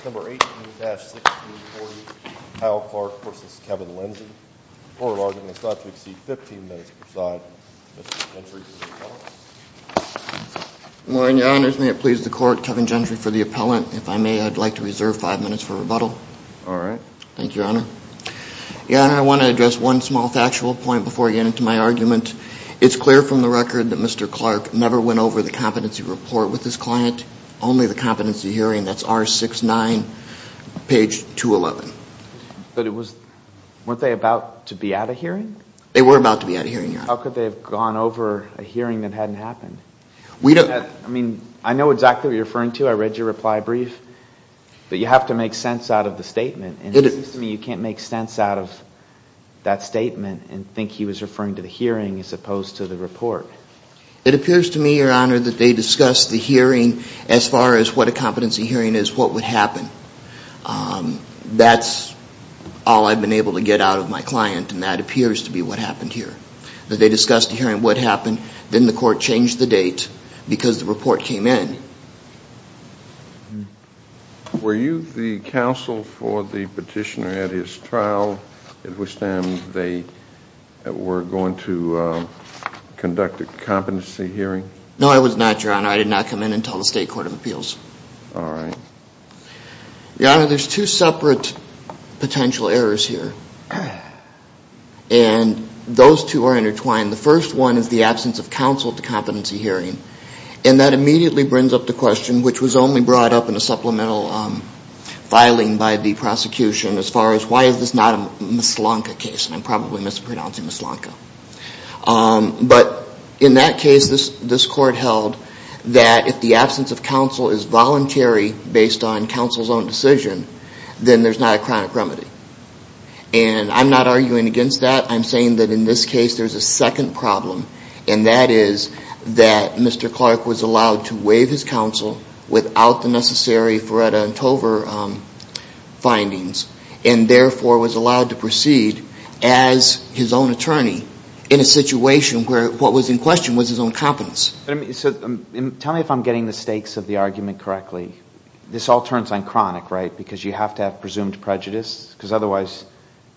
Case number 18-640, Kyle Clark v. Kevin Lindsey. Court of argument is thought to exceed 15 minutes per side. Mr. Gentry for the rebuttal. Good morning, your honors. May it please the court, Kevin Gentry for the appellant. If I may, I'd like to reserve five minutes for rebuttal. All right. Thank you, your honor. Your honor, I want to address one small factual point before I get into my argument. It's clear from the record that Mr. Clark never went over the competency report with his client. Only the competency hearing, that's R-69, page 211. But it was – weren't they about to be at a hearing? They were about to be at a hearing, your honor. How could they have gone over a hearing that hadn't happened? We don't – I mean, I know exactly what you're referring to. I read your reply brief. But you have to make sense out of the statement. And it seems to me you can't make sense out of that statement and think he was referring to the hearing as opposed to the report. It appears to me, your honor, that they discussed the hearing as far as what a competency hearing is, what would happen. That's all I've been able to get out of my client, and that appears to be what happened here. That they discussed the hearing, what happened. Then the court changed the date because the report came in. Were you the counsel for the petitioner at his trial at which time they were going to conduct a competency hearing? No, I was not, your honor. I did not come in until the State Court of Appeals. All right. Your honor, there's two separate potential errors here. And those two are intertwined. The first one is the absence of counsel at the competency hearing. And that immediately brings up the question, which was only brought up in a supplemental filing by the prosecution, as far as why is this not a Mislanka case? And I'm probably mispronouncing Mislanka. But in that case, this court held that if the absence of counsel is voluntary based on counsel's own decision, then there's not a chronic remedy. And I'm not arguing against that. I'm saying that in this case there's a second problem. And that is that Mr. Clark was allowed to waive his counsel without the necessary Feretta and Tover findings and therefore was allowed to proceed as his own attorney in a situation where what was in question was his own competence. So tell me if I'm getting the stakes of the argument correctly. This all turns on chronic, right, because you have to have presumed prejudice, because otherwise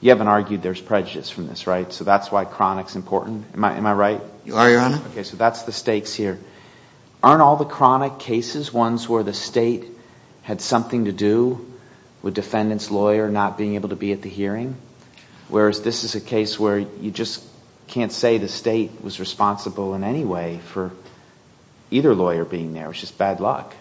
you haven't argued there's prejudice from this, right? So that's why chronic's important. Am I right? You are, Your Honor. Okay. So that's the stakes here. Aren't all the chronic cases ones where the State had something to do with defendant's lawyer not being able to be at the hearing? Whereas this is a case where you just can't say the State was responsible in any way for either lawyer being there. It's just bad luck.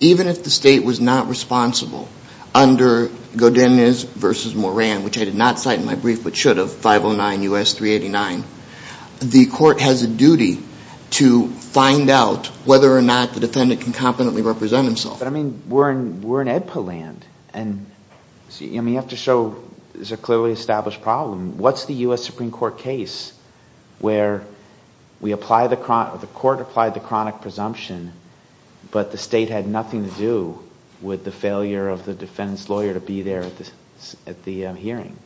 Even if the State was not responsible under Godinez v. Moran, which I did not cite in my brief but should have, 509 U.S. 389, the Court has a duty to find out whether or not the defendant can competently represent himself. But, I mean, we're in AEDPA land, and you have to show there's a clearly established problem. What's the U.S. Supreme Court case where the Court applied the chronic presumption, but the State had nothing to do with the failure of the defendant's lawyer to be there at the hearing?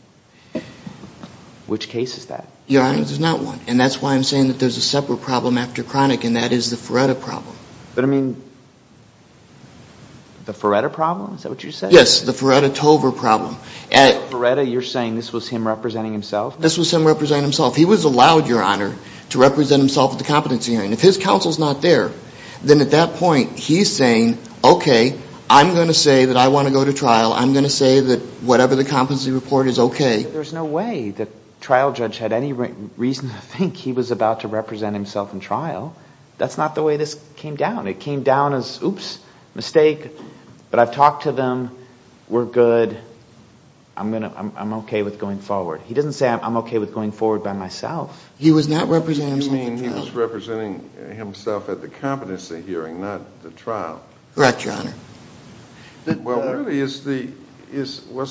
Which case is that? Your Honor, there's not one. And that's why I'm saying that there's a separate problem after chronic, and that is the Feretta problem. But, I mean, the Feretta problem? Is that what you're saying? Yes, the Feretta-Tover problem. So, Feretta, you're saying this was him representing himself? This was him representing himself. He was allowed, Your Honor, to represent himself at the competency hearing. If his counsel's not there, then at that point he's saying, okay, I'm going to say that I want to go to trial. I'm going to say that whatever the competency report is, okay. There's no way the trial judge had any reason to think he was about to represent himself in trial. That's not the way this came down. It came down as, oops, mistake, but I've talked to them. We're good. I'm okay with going forward. He doesn't say I'm okay with going forward by myself. You mean he was representing himself at the competency hearing, not the trial? Correct, Your Honor. Well, really, was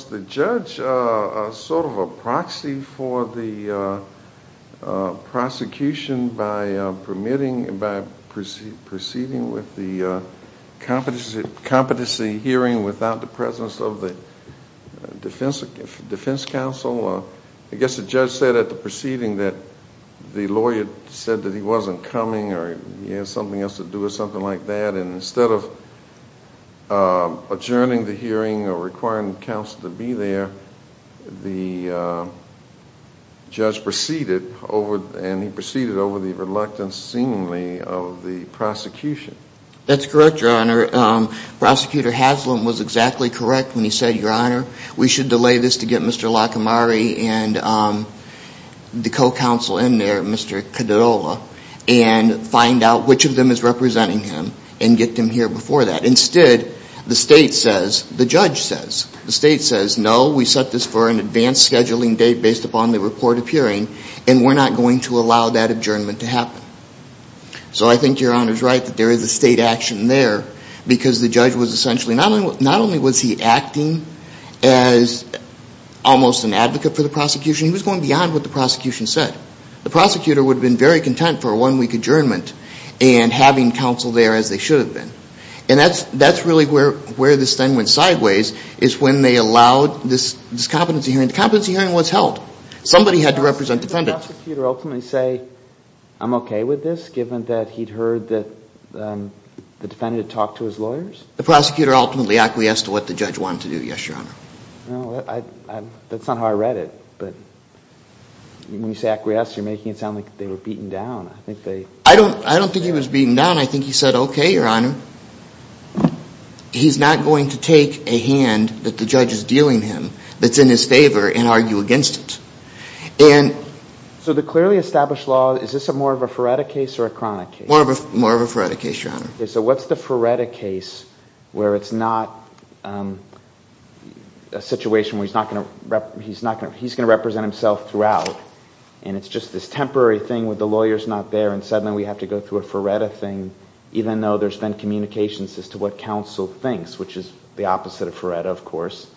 the judge sort of a proxy for the prosecution by permitting, by proceeding with the competency hearing without the presence of the defense counsel? I guess the judge said at the proceeding that the lawyer said that he wasn't coming or he had something else to do or something like that. And instead of adjourning the hearing or requiring counsel to be there, the judge proceeded and he proceeded over the reluctance seemingly of the prosecution. That's correct, Your Honor. Prosecutor Haslam was exactly correct when he said, Your Honor, we should delay this to get Mr. Lacamari and the co-counsel in there, Mr. Cadola, and find out which of them is representing him and get them here before that. Instead, the state says, the judge says, the state says, no, we set this for an advanced scheduling date based upon the report appearing and we're not going to allow that adjournment to happen. So I think Your Honor's right that there is a state action there because the judge was essentially, not only was he acting as almost an advocate for the prosecution, he was going beyond what the prosecution said. The prosecutor would have been very content for a one-week adjournment and having counsel there as they should have been. And that's really where this thing went sideways is when they allowed this competency hearing. The competency hearing was held. Somebody had to represent defendants. Did the prosecutor ultimately say, I'm okay with this, given that he'd heard that the defendant had talked to his lawyers? The prosecutor ultimately acquiesced to what the judge wanted to do, yes, Your Honor. Well, that's not how I read it, but when you say acquiesced, you're making it sound like they were beaten down. I don't think he was beaten down. I think he said, okay, Your Honor, he's not going to take a hand that the judge is dealing him that's in his favor and argue against it. So the clearly established law, is this more of a Feretta case or a Cronic case? More of a Feretta case, Your Honor. Okay, so what's the Feretta case where it's not a situation where he's going to represent himself throughout and it's just this temporary thing where the lawyer's not there and suddenly we have to go through a Feretta thing, even though there's been communications as to what counsel thinks, which is the opposite of Feretta, of course.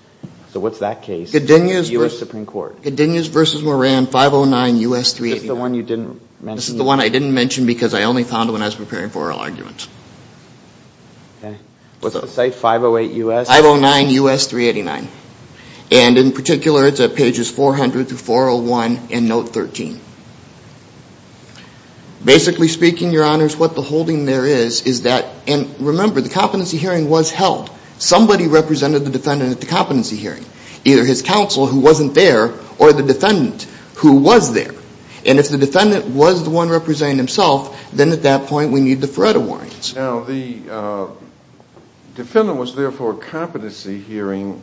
So what's that case in the U.S. Supreme Court? Godinez v. Moran, 509 U.S. 389. This is the one you didn't mention? This is the one I didn't mention because I only found it when I was preparing for oral argument. Was the site 508 U.S.? 509 U.S. 389. And in particular, it's at pages 400 through 401 in note 13. Basically speaking, Your Honors, what the holding there is, is that, and remember, the competency hearing was held. Somebody represented the defendant at the competency hearing, either his counsel who wasn't there or the defendant who was there. And if the defendant was the one representing himself, then at that point we need the Feretta warrants. Now, the defendant was there for a competency hearing.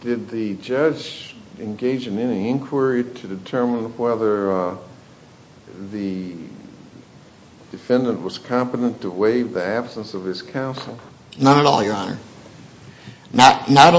Did the judge engage in any inquiry to determine whether the defendant was competent to waive the absence of his counsel? Not at all, Your Honor. And that's where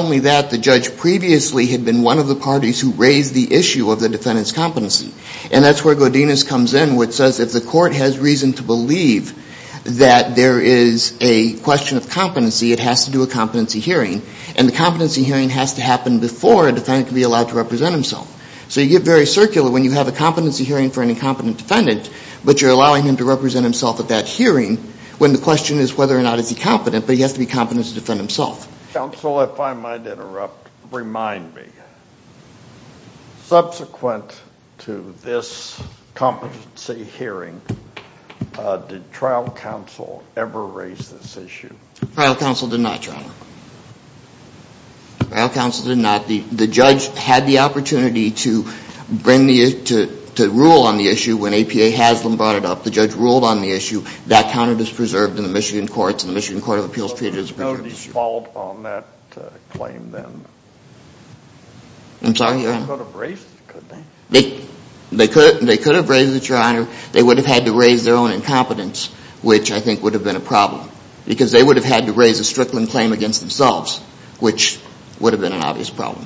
Godinez comes in, which says if the court has reason to believe that there is a question of competency, it has to do a competency hearing. And the competency hearing has to happen before a defendant can be allowed to represent himself. So you get very circular when you have a competency hearing for an incompetent defendant, but you're allowing him to represent himself at that hearing when the question is whether or not is he competent, but he has to be competent to defend himself. Counsel, if I might interrupt, remind me. Subsequent to this competency hearing, did trial counsel ever raise this issue? Trial counsel did not, Your Honor. Trial counsel did not. The judge had the opportunity to rule on the issue when APA has them brought it up. The judge ruled on the issue. That count is preserved in the Michigan courts, and the Michigan Court of Appeals treated it as a preserved issue. So Godinez followed on that claim then? I'm sorry, Your Honor. They could have raised it, couldn't they? They could have raised it, Your Honor. They would have had to raise their own incompetence, which I think would have been a problem because they would have had to raise a Strickland claim against themselves, which would have been an obvious problem.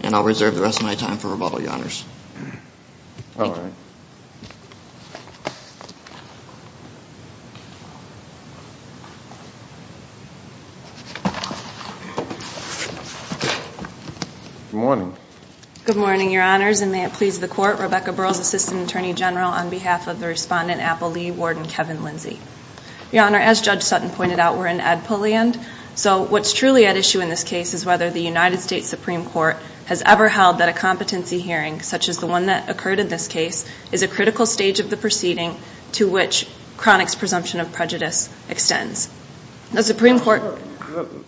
And I'll reserve the rest of my time for rebuttal, Your Honors. All right. Good morning. Good morning, Your Honors, and may it please the Court, Rebecca Burles, Assistant Attorney General, on behalf of the Respondent, Apple Lee, Warden Kevin Lindsey. Your Honor, as Judge Sutton pointed out, we're in Edpo land, so what's truly at issue in this case is whether the United States Supreme Court has ever held that a competency hearing, such as the one that occurred in this case, is a critical stage of the proceeding to which chronic presumption of prejudice extends.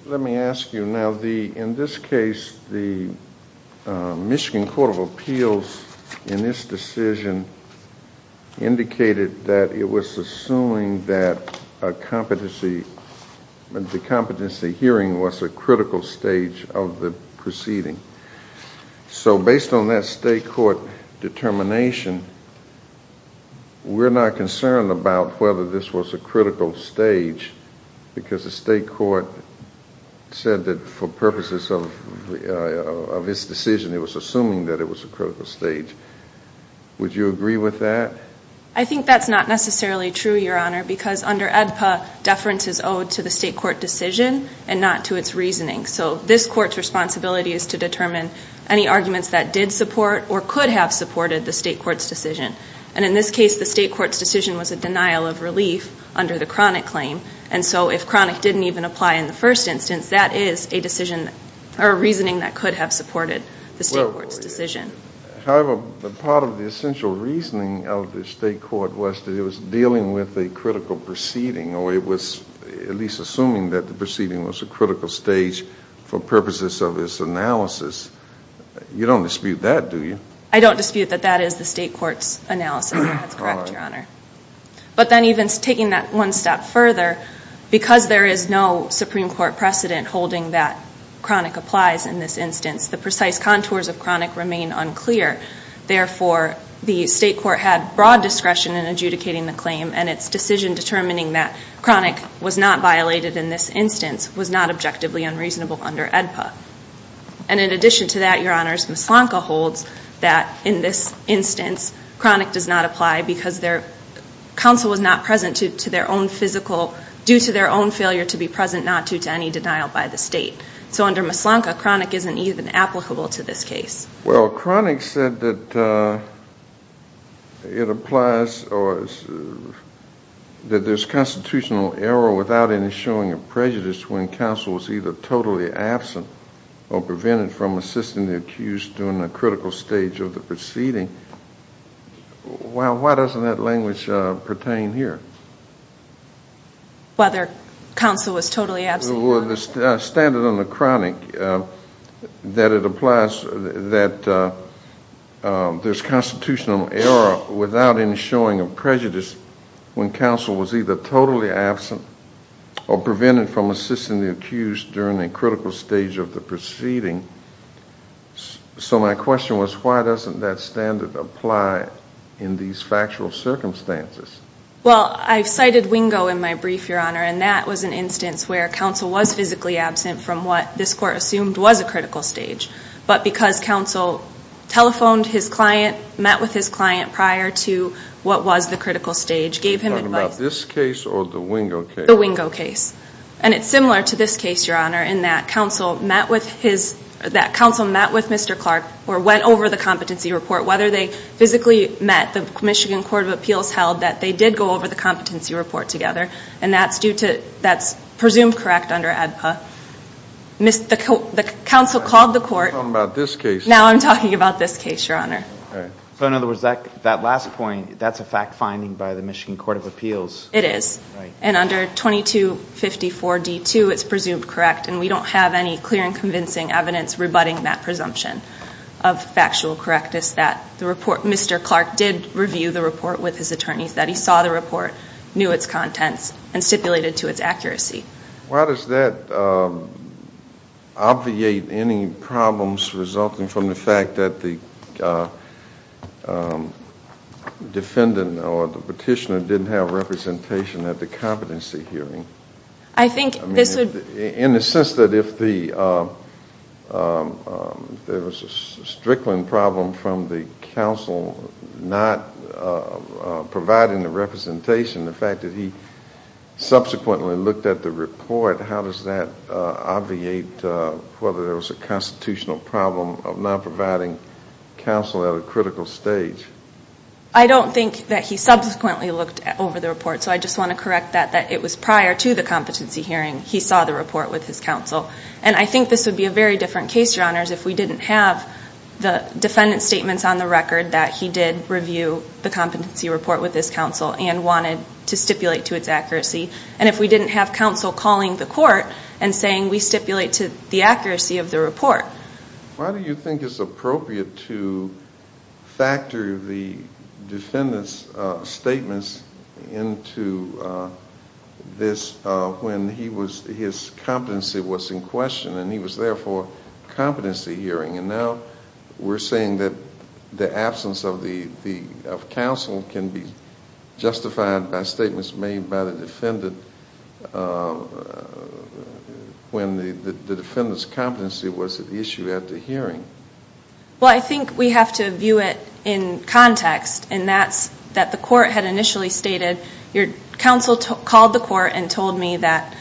Let me ask you. Now, in this case, the Michigan Court of Appeals, in this decision, indicated that it was assuming that a competency hearing was a critical stage of the proceeding. So based on that state court determination, we're not concerned about whether this was a critical stage, because the state court said that for purposes of its decision, it was assuming that it was a critical stage. Would you agree with that? I think that's not necessarily true, Your Honor, because under Edpo, deference is owed to the state court decision and not to its reasoning. So this court's responsibility is to determine any arguments that did support or could have supported the state court's decision. And in this case, the state court's decision was a denial of relief under the chronic claim. And so if chronic didn't even apply in the first instance, that is a decision or a reasoning that could have supported the state court's decision. However, part of the essential reasoning of the state court was that it was dealing with a critical proceeding, or it was at least assuming that the proceeding was a critical stage for purposes of its analysis. You don't dispute that, do you? I don't dispute that that is the state court's analysis. That's correct, Your Honor. But then even taking that one step further, because there is no Supreme Court precedent holding that chronic applies in this instance, the precise contours of chronic remain unclear. Therefore, the state court had broad discretion in adjudicating the claim and its decision determining that chronic was not violated in this instance was not objectively unreasonable under Edpo. And in addition to that, Your Honors, Mislanka holds that in this instance chronic does not apply because counsel was not present due to their own failure to be present, not due to any denial by the state. So under Mislanka, chronic isn't even applicable to this case. Well, chronic said that it applies, or that there's constitutional error without any showing of prejudice when counsel was either totally absent or prevented from assisting the accused during the critical stage of the proceeding. Why doesn't that language pertain here? Whether counsel was totally absent. Well, the standard on the chronic, that it applies that there's constitutional error without any showing of prejudice when counsel was either totally absent or prevented from assisting the accused during the critical stage of the proceeding. So my question was why doesn't that standard apply in these factual circumstances? Well, I've cited Wingo in my brief, Your Honor, and that was an instance where counsel was physically absent from what this court assumed was a critical stage, but because counsel telephoned his client, met with his client prior to what was the critical stage, gave him advice. Are you talking about this case or the Wingo case? The Wingo case. And it's similar to this case, Your Honor, in that counsel met with Mr. Clark or went over the competency report. Whether they physically met, the Michigan Court of Appeals held that they did go over the competency report together, and that's presumed correct under ADPA. The counsel called the court. I'm talking about this case. So in other words, that last point, that's a fact finding by the Michigan Court of Appeals. It is. And under 2254D2, it's presumed correct, and we don't have any clear and convincing evidence rebutting that presumption of factual correctness that Mr. Clark did review the report with his attorneys, that he saw the report, knew its contents, and stipulated to its accuracy. Why does that obviate any problems resulting from the fact that the defendant or the petitioner didn't have representation at the competency hearing? I think this would... In the sense that if there was a strickling problem from the counsel not providing the representation, the fact that he subsequently looked at the report, how does that obviate whether there was a constitutional problem of not providing counsel at a critical stage? I don't think that he subsequently looked over the report, so I just want to correct that, that it was prior to the competency hearing he saw the report with his counsel. And I think this would be a very different case, Your Honors, if we didn't have the defendant's statements on the record that he did review the competency report with his counsel and wanted to stipulate to its accuracy, and if we didn't have counsel calling the court and saying, we stipulate to the accuracy of the report. Why do you think it's appropriate to factor the defendant's statements into this when his competency was in question and he was there for competency hearing? And now we're saying that the absence of counsel can be justified by statements made by the defendant when the defendant's competency was at issue at the hearing. Well, I think we have to view it in context, and that's that the court had initially stated, your counsel called the court and told me that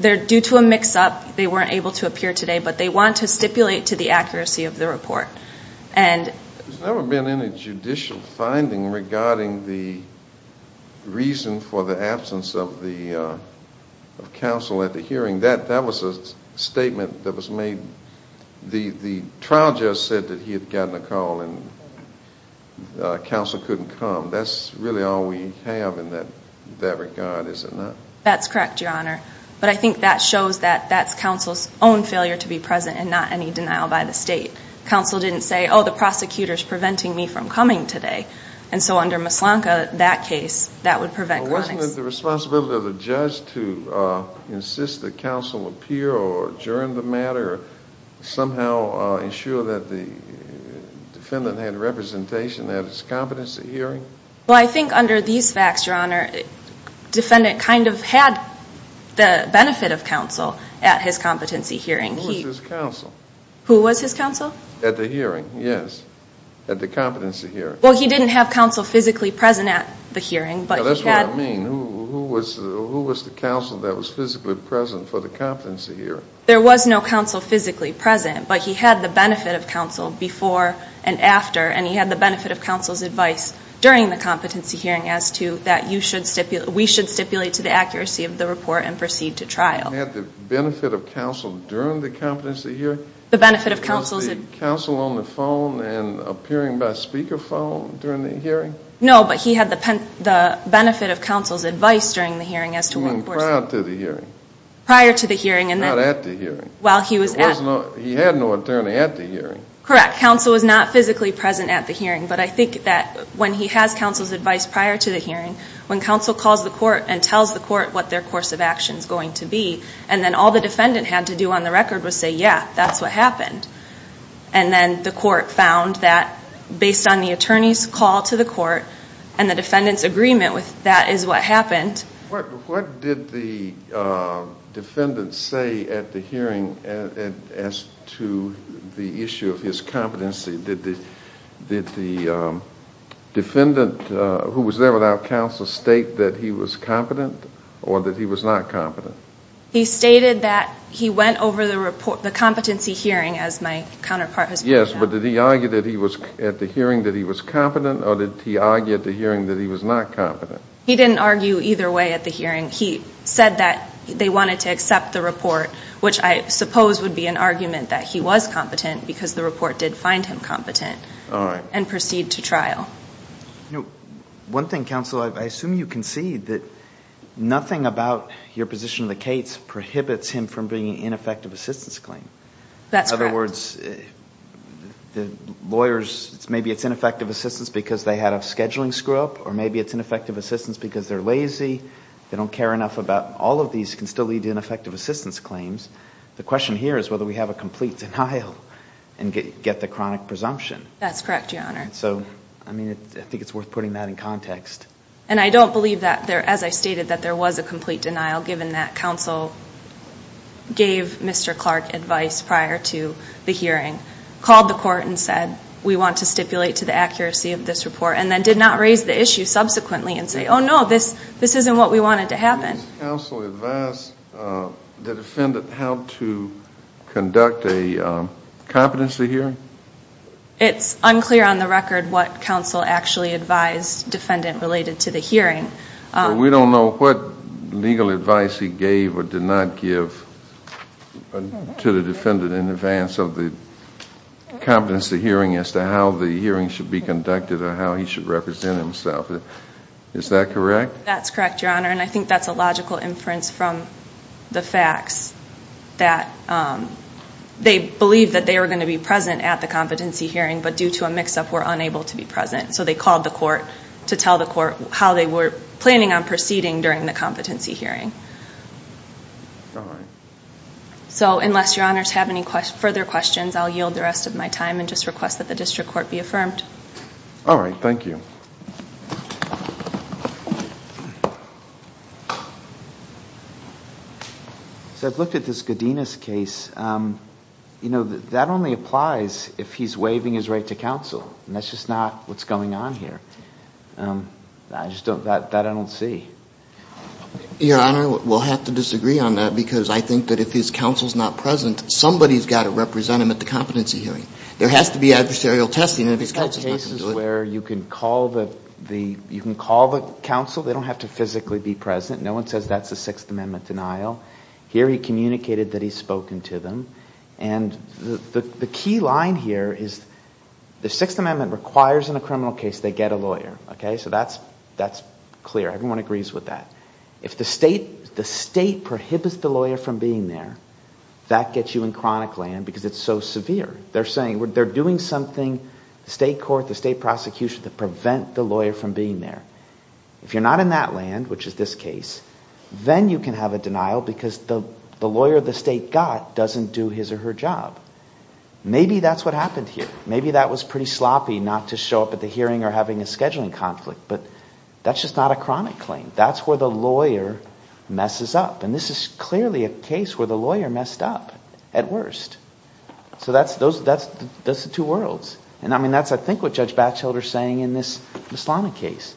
they're due to a mix-up, they weren't able to appear today, but they want to stipulate to the accuracy of the report. There's never been any judicial finding regarding the reason for the absence of counsel at the hearing. That was a statement that was made. The trial judge said that he had gotten a call and counsel couldn't come. That's really all we have in that regard, is it not? That's correct, Your Honor. But I think that shows that that's counsel's own failure to be present and not any denial by the state. Counsel didn't say, oh, the prosecutor's preventing me from coming today. And so under Mislanka, that case, that would prevent comics. Well, wasn't it the responsibility of the judge to insist that counsel appear or adjourn the matter or somehow ensure that the defendant had representation at his competency hearing? Well, I think under these facts, Your Honor, defendant kind of had the benefit of counsel at his competency hearing. Who was his counsel? Who was his counsel? At the hearing, yes, at the competency hearing. Well, he didn't have counsel physically present at the hearing, but he had. That's what I mean. Who was the counsel that was physically present for the competency hearing? There was no counsel physically present, but he had the benefit of counsel before and after, and he had the benefit of counsel's advice during the competency hearing as to that you should stipulate, we should stipulate to the accuracy of the report and proceed to trial. He had the benefit of counsel during the competency hearing? The benefit of counsel. Was the counsel on the phone and appearing by speakerphone during the hearing? No, but he had the benefit of counsel's advice during the hearing as to what course. Prior to the hearing. Prior to the hearing. While he was at. He had no attorney at the hearing. Correct. Counsel was not physically present at the hearing, but I think that when he has counsel's advice prior to the hearing, when counsel calls the court and tells the court what their course of action is going to be, and then all the defendant had to do on the record was say, yeah, that's what happened. And then the court found that based on the attorney's call to the court and the defendant's agreement with that is what happened. What did the defendant say at the hearing as to the issue of his competency? Did the defendant who was there without counsel state that he was competent or that he was not competent? He stated that he went over the competency hearing as my counterpart has pointed out. Yes, but did he argue at the hearing that he was competent or did he argue at the hearing that he was not competent? He didn't argue either way at the hearing. He said that they wanted to accept the report, which I suppose would be an argument that he was competent because the report did find him competent and proceed to trial. One thing, counsel, I assume you concede that nothing about your position of the case prohibits him from bringing an ineffective assistance claim. That's correct. In other words, the lawyers, maybe it's ineffective assistance because they had a scheduling screw-up or maybe it's ineffective assistance because they're lazy, they don't care enough about all of these, can still lead to ineffective assistance claims. The question here is whether we have a complete denial and get the chronic presumption. That's correct, Your Honor. So, I mean, I think it's worth putting that in context. And I don't believe that, as I stated, that there was a complete denial given that counsel gave Mr. Clark advice prior to the hearing, called the court and said, we want to stipulate to the accuracy of this report and then did not raise the issue subsequently and say, oh, no, this isn't what we wanted to happen. Did counsel advise the defendant how to conduct a competency hearing? It's unclear on the record what counsel actually advised defendant related to the hearing. We don't know what legal advice he gave or did not give to the defendant in advance of the competency hearing as to how the hearing should be conducted or how he should represent himself. Is that correct? That's correct, Your Honor, and I think that's a logical inference from the facts that they believed that they were going to be present at the competency hearing, but due to a mix-up were unable to be present. So they called the court to tell the court how they were planning on proceeding during the competency hearing. All right. So unless Your Honors have any further questions, I'll yield the rest of my time and just request that the district court be affirmed. All right. Thank you. So I've looked at this Godinez case. You know, that only applies if he's waiving his right to counsel, and that's just not what's going on here. That I don't see. Your Honor, we'll have to disagree on that because I think that if his counsel is not present, somebody's got to represent him at the competency hearing. There has to be adversarial testing, and if his counsel's not going to do it. There are cases where you can call the counsel. They don't have to physically be present. No one says that's a Sixth Amendment denial. Here he communicated that he's spoken to them, and the key line here is the Sixth Amendment requires in a criminal case they get a lawyer, okay? So that's clear. Everyone agrees with that. If the state prohibits the lawyer from being there, that gets you in chronic land because it's so severe. They're saying they're doing something, the state court, the state prosecution, to prevent the lawyer from being there. If you're not in that land, which is this case, then you can have a denial because the lawyer the state got doesn't do his or her job. Maybe that's what happened here. Maybe that was pretty sloppy not to show up at the hearing or having a scheduling conflict, but that's just not a chronic claim. That's where the lawyer messes up, and this is clearly a case where the lawyer messed up at worst. So that's the two worlds, and, I mean, that's, I think, what Judge Batchelder is saying in this Mislana case.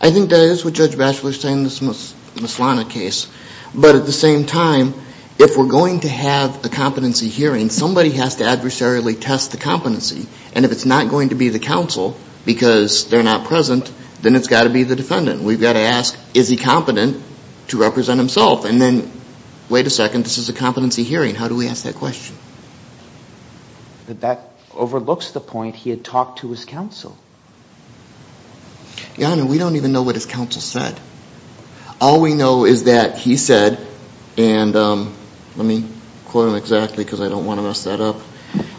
I think that is what Judge Batchelder is saying in this Mislana case, but at the same time, if we're going to have a competency hearing, somebody has to adversarially test the competency, and if it's not going to be the counsel because they're not present, then it's got to be the defendant. We've got to ask, is he competent to represent himself? And then, wait a second, this is a competency hearing. How do we ask that question? But that overlooks the point he had talked to his counsel. Your Honor, we don't even know what his counsel said. All we know is that he said, and let me quote him exactly because I don't want to mess that up.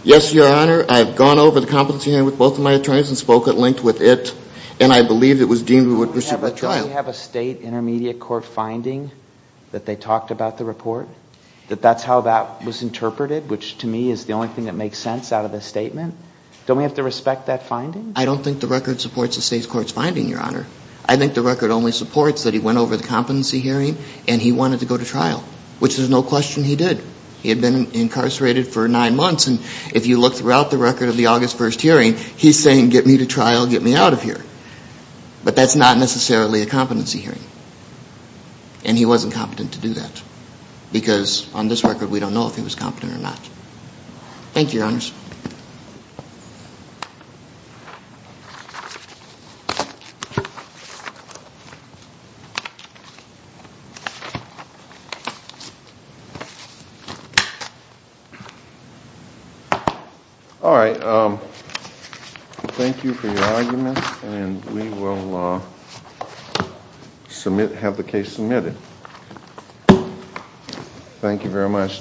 Yes, Your Honor, I have gone over the competency hearing with both of my attorneys and spoke at length with it, and I believe it was deemed we would pursue that trial. Don't we have a state intermediate court finding that they talked about the report, that that's how that was interpreted, which to me is the only thing that makes sense out of this statement? Don't we have to respect that finding? I don't think the record supports the state's court's finding, Your Honor. I think the record only supports that he went over the competency hearing and he wanted to go to trial, which there's no question he did. He had been incarcerated for nine months, and if you look throughout the record of the August 1st hearing, he's saying get me to trial, get me out of here. But that's not necessarily a competency hearing, and he wasn't competent to do that because on this record we don't know if he was competent or not. Thank you, Your Honors. All right, thank you for your argument, and we will have the case submitted. Thank you very much.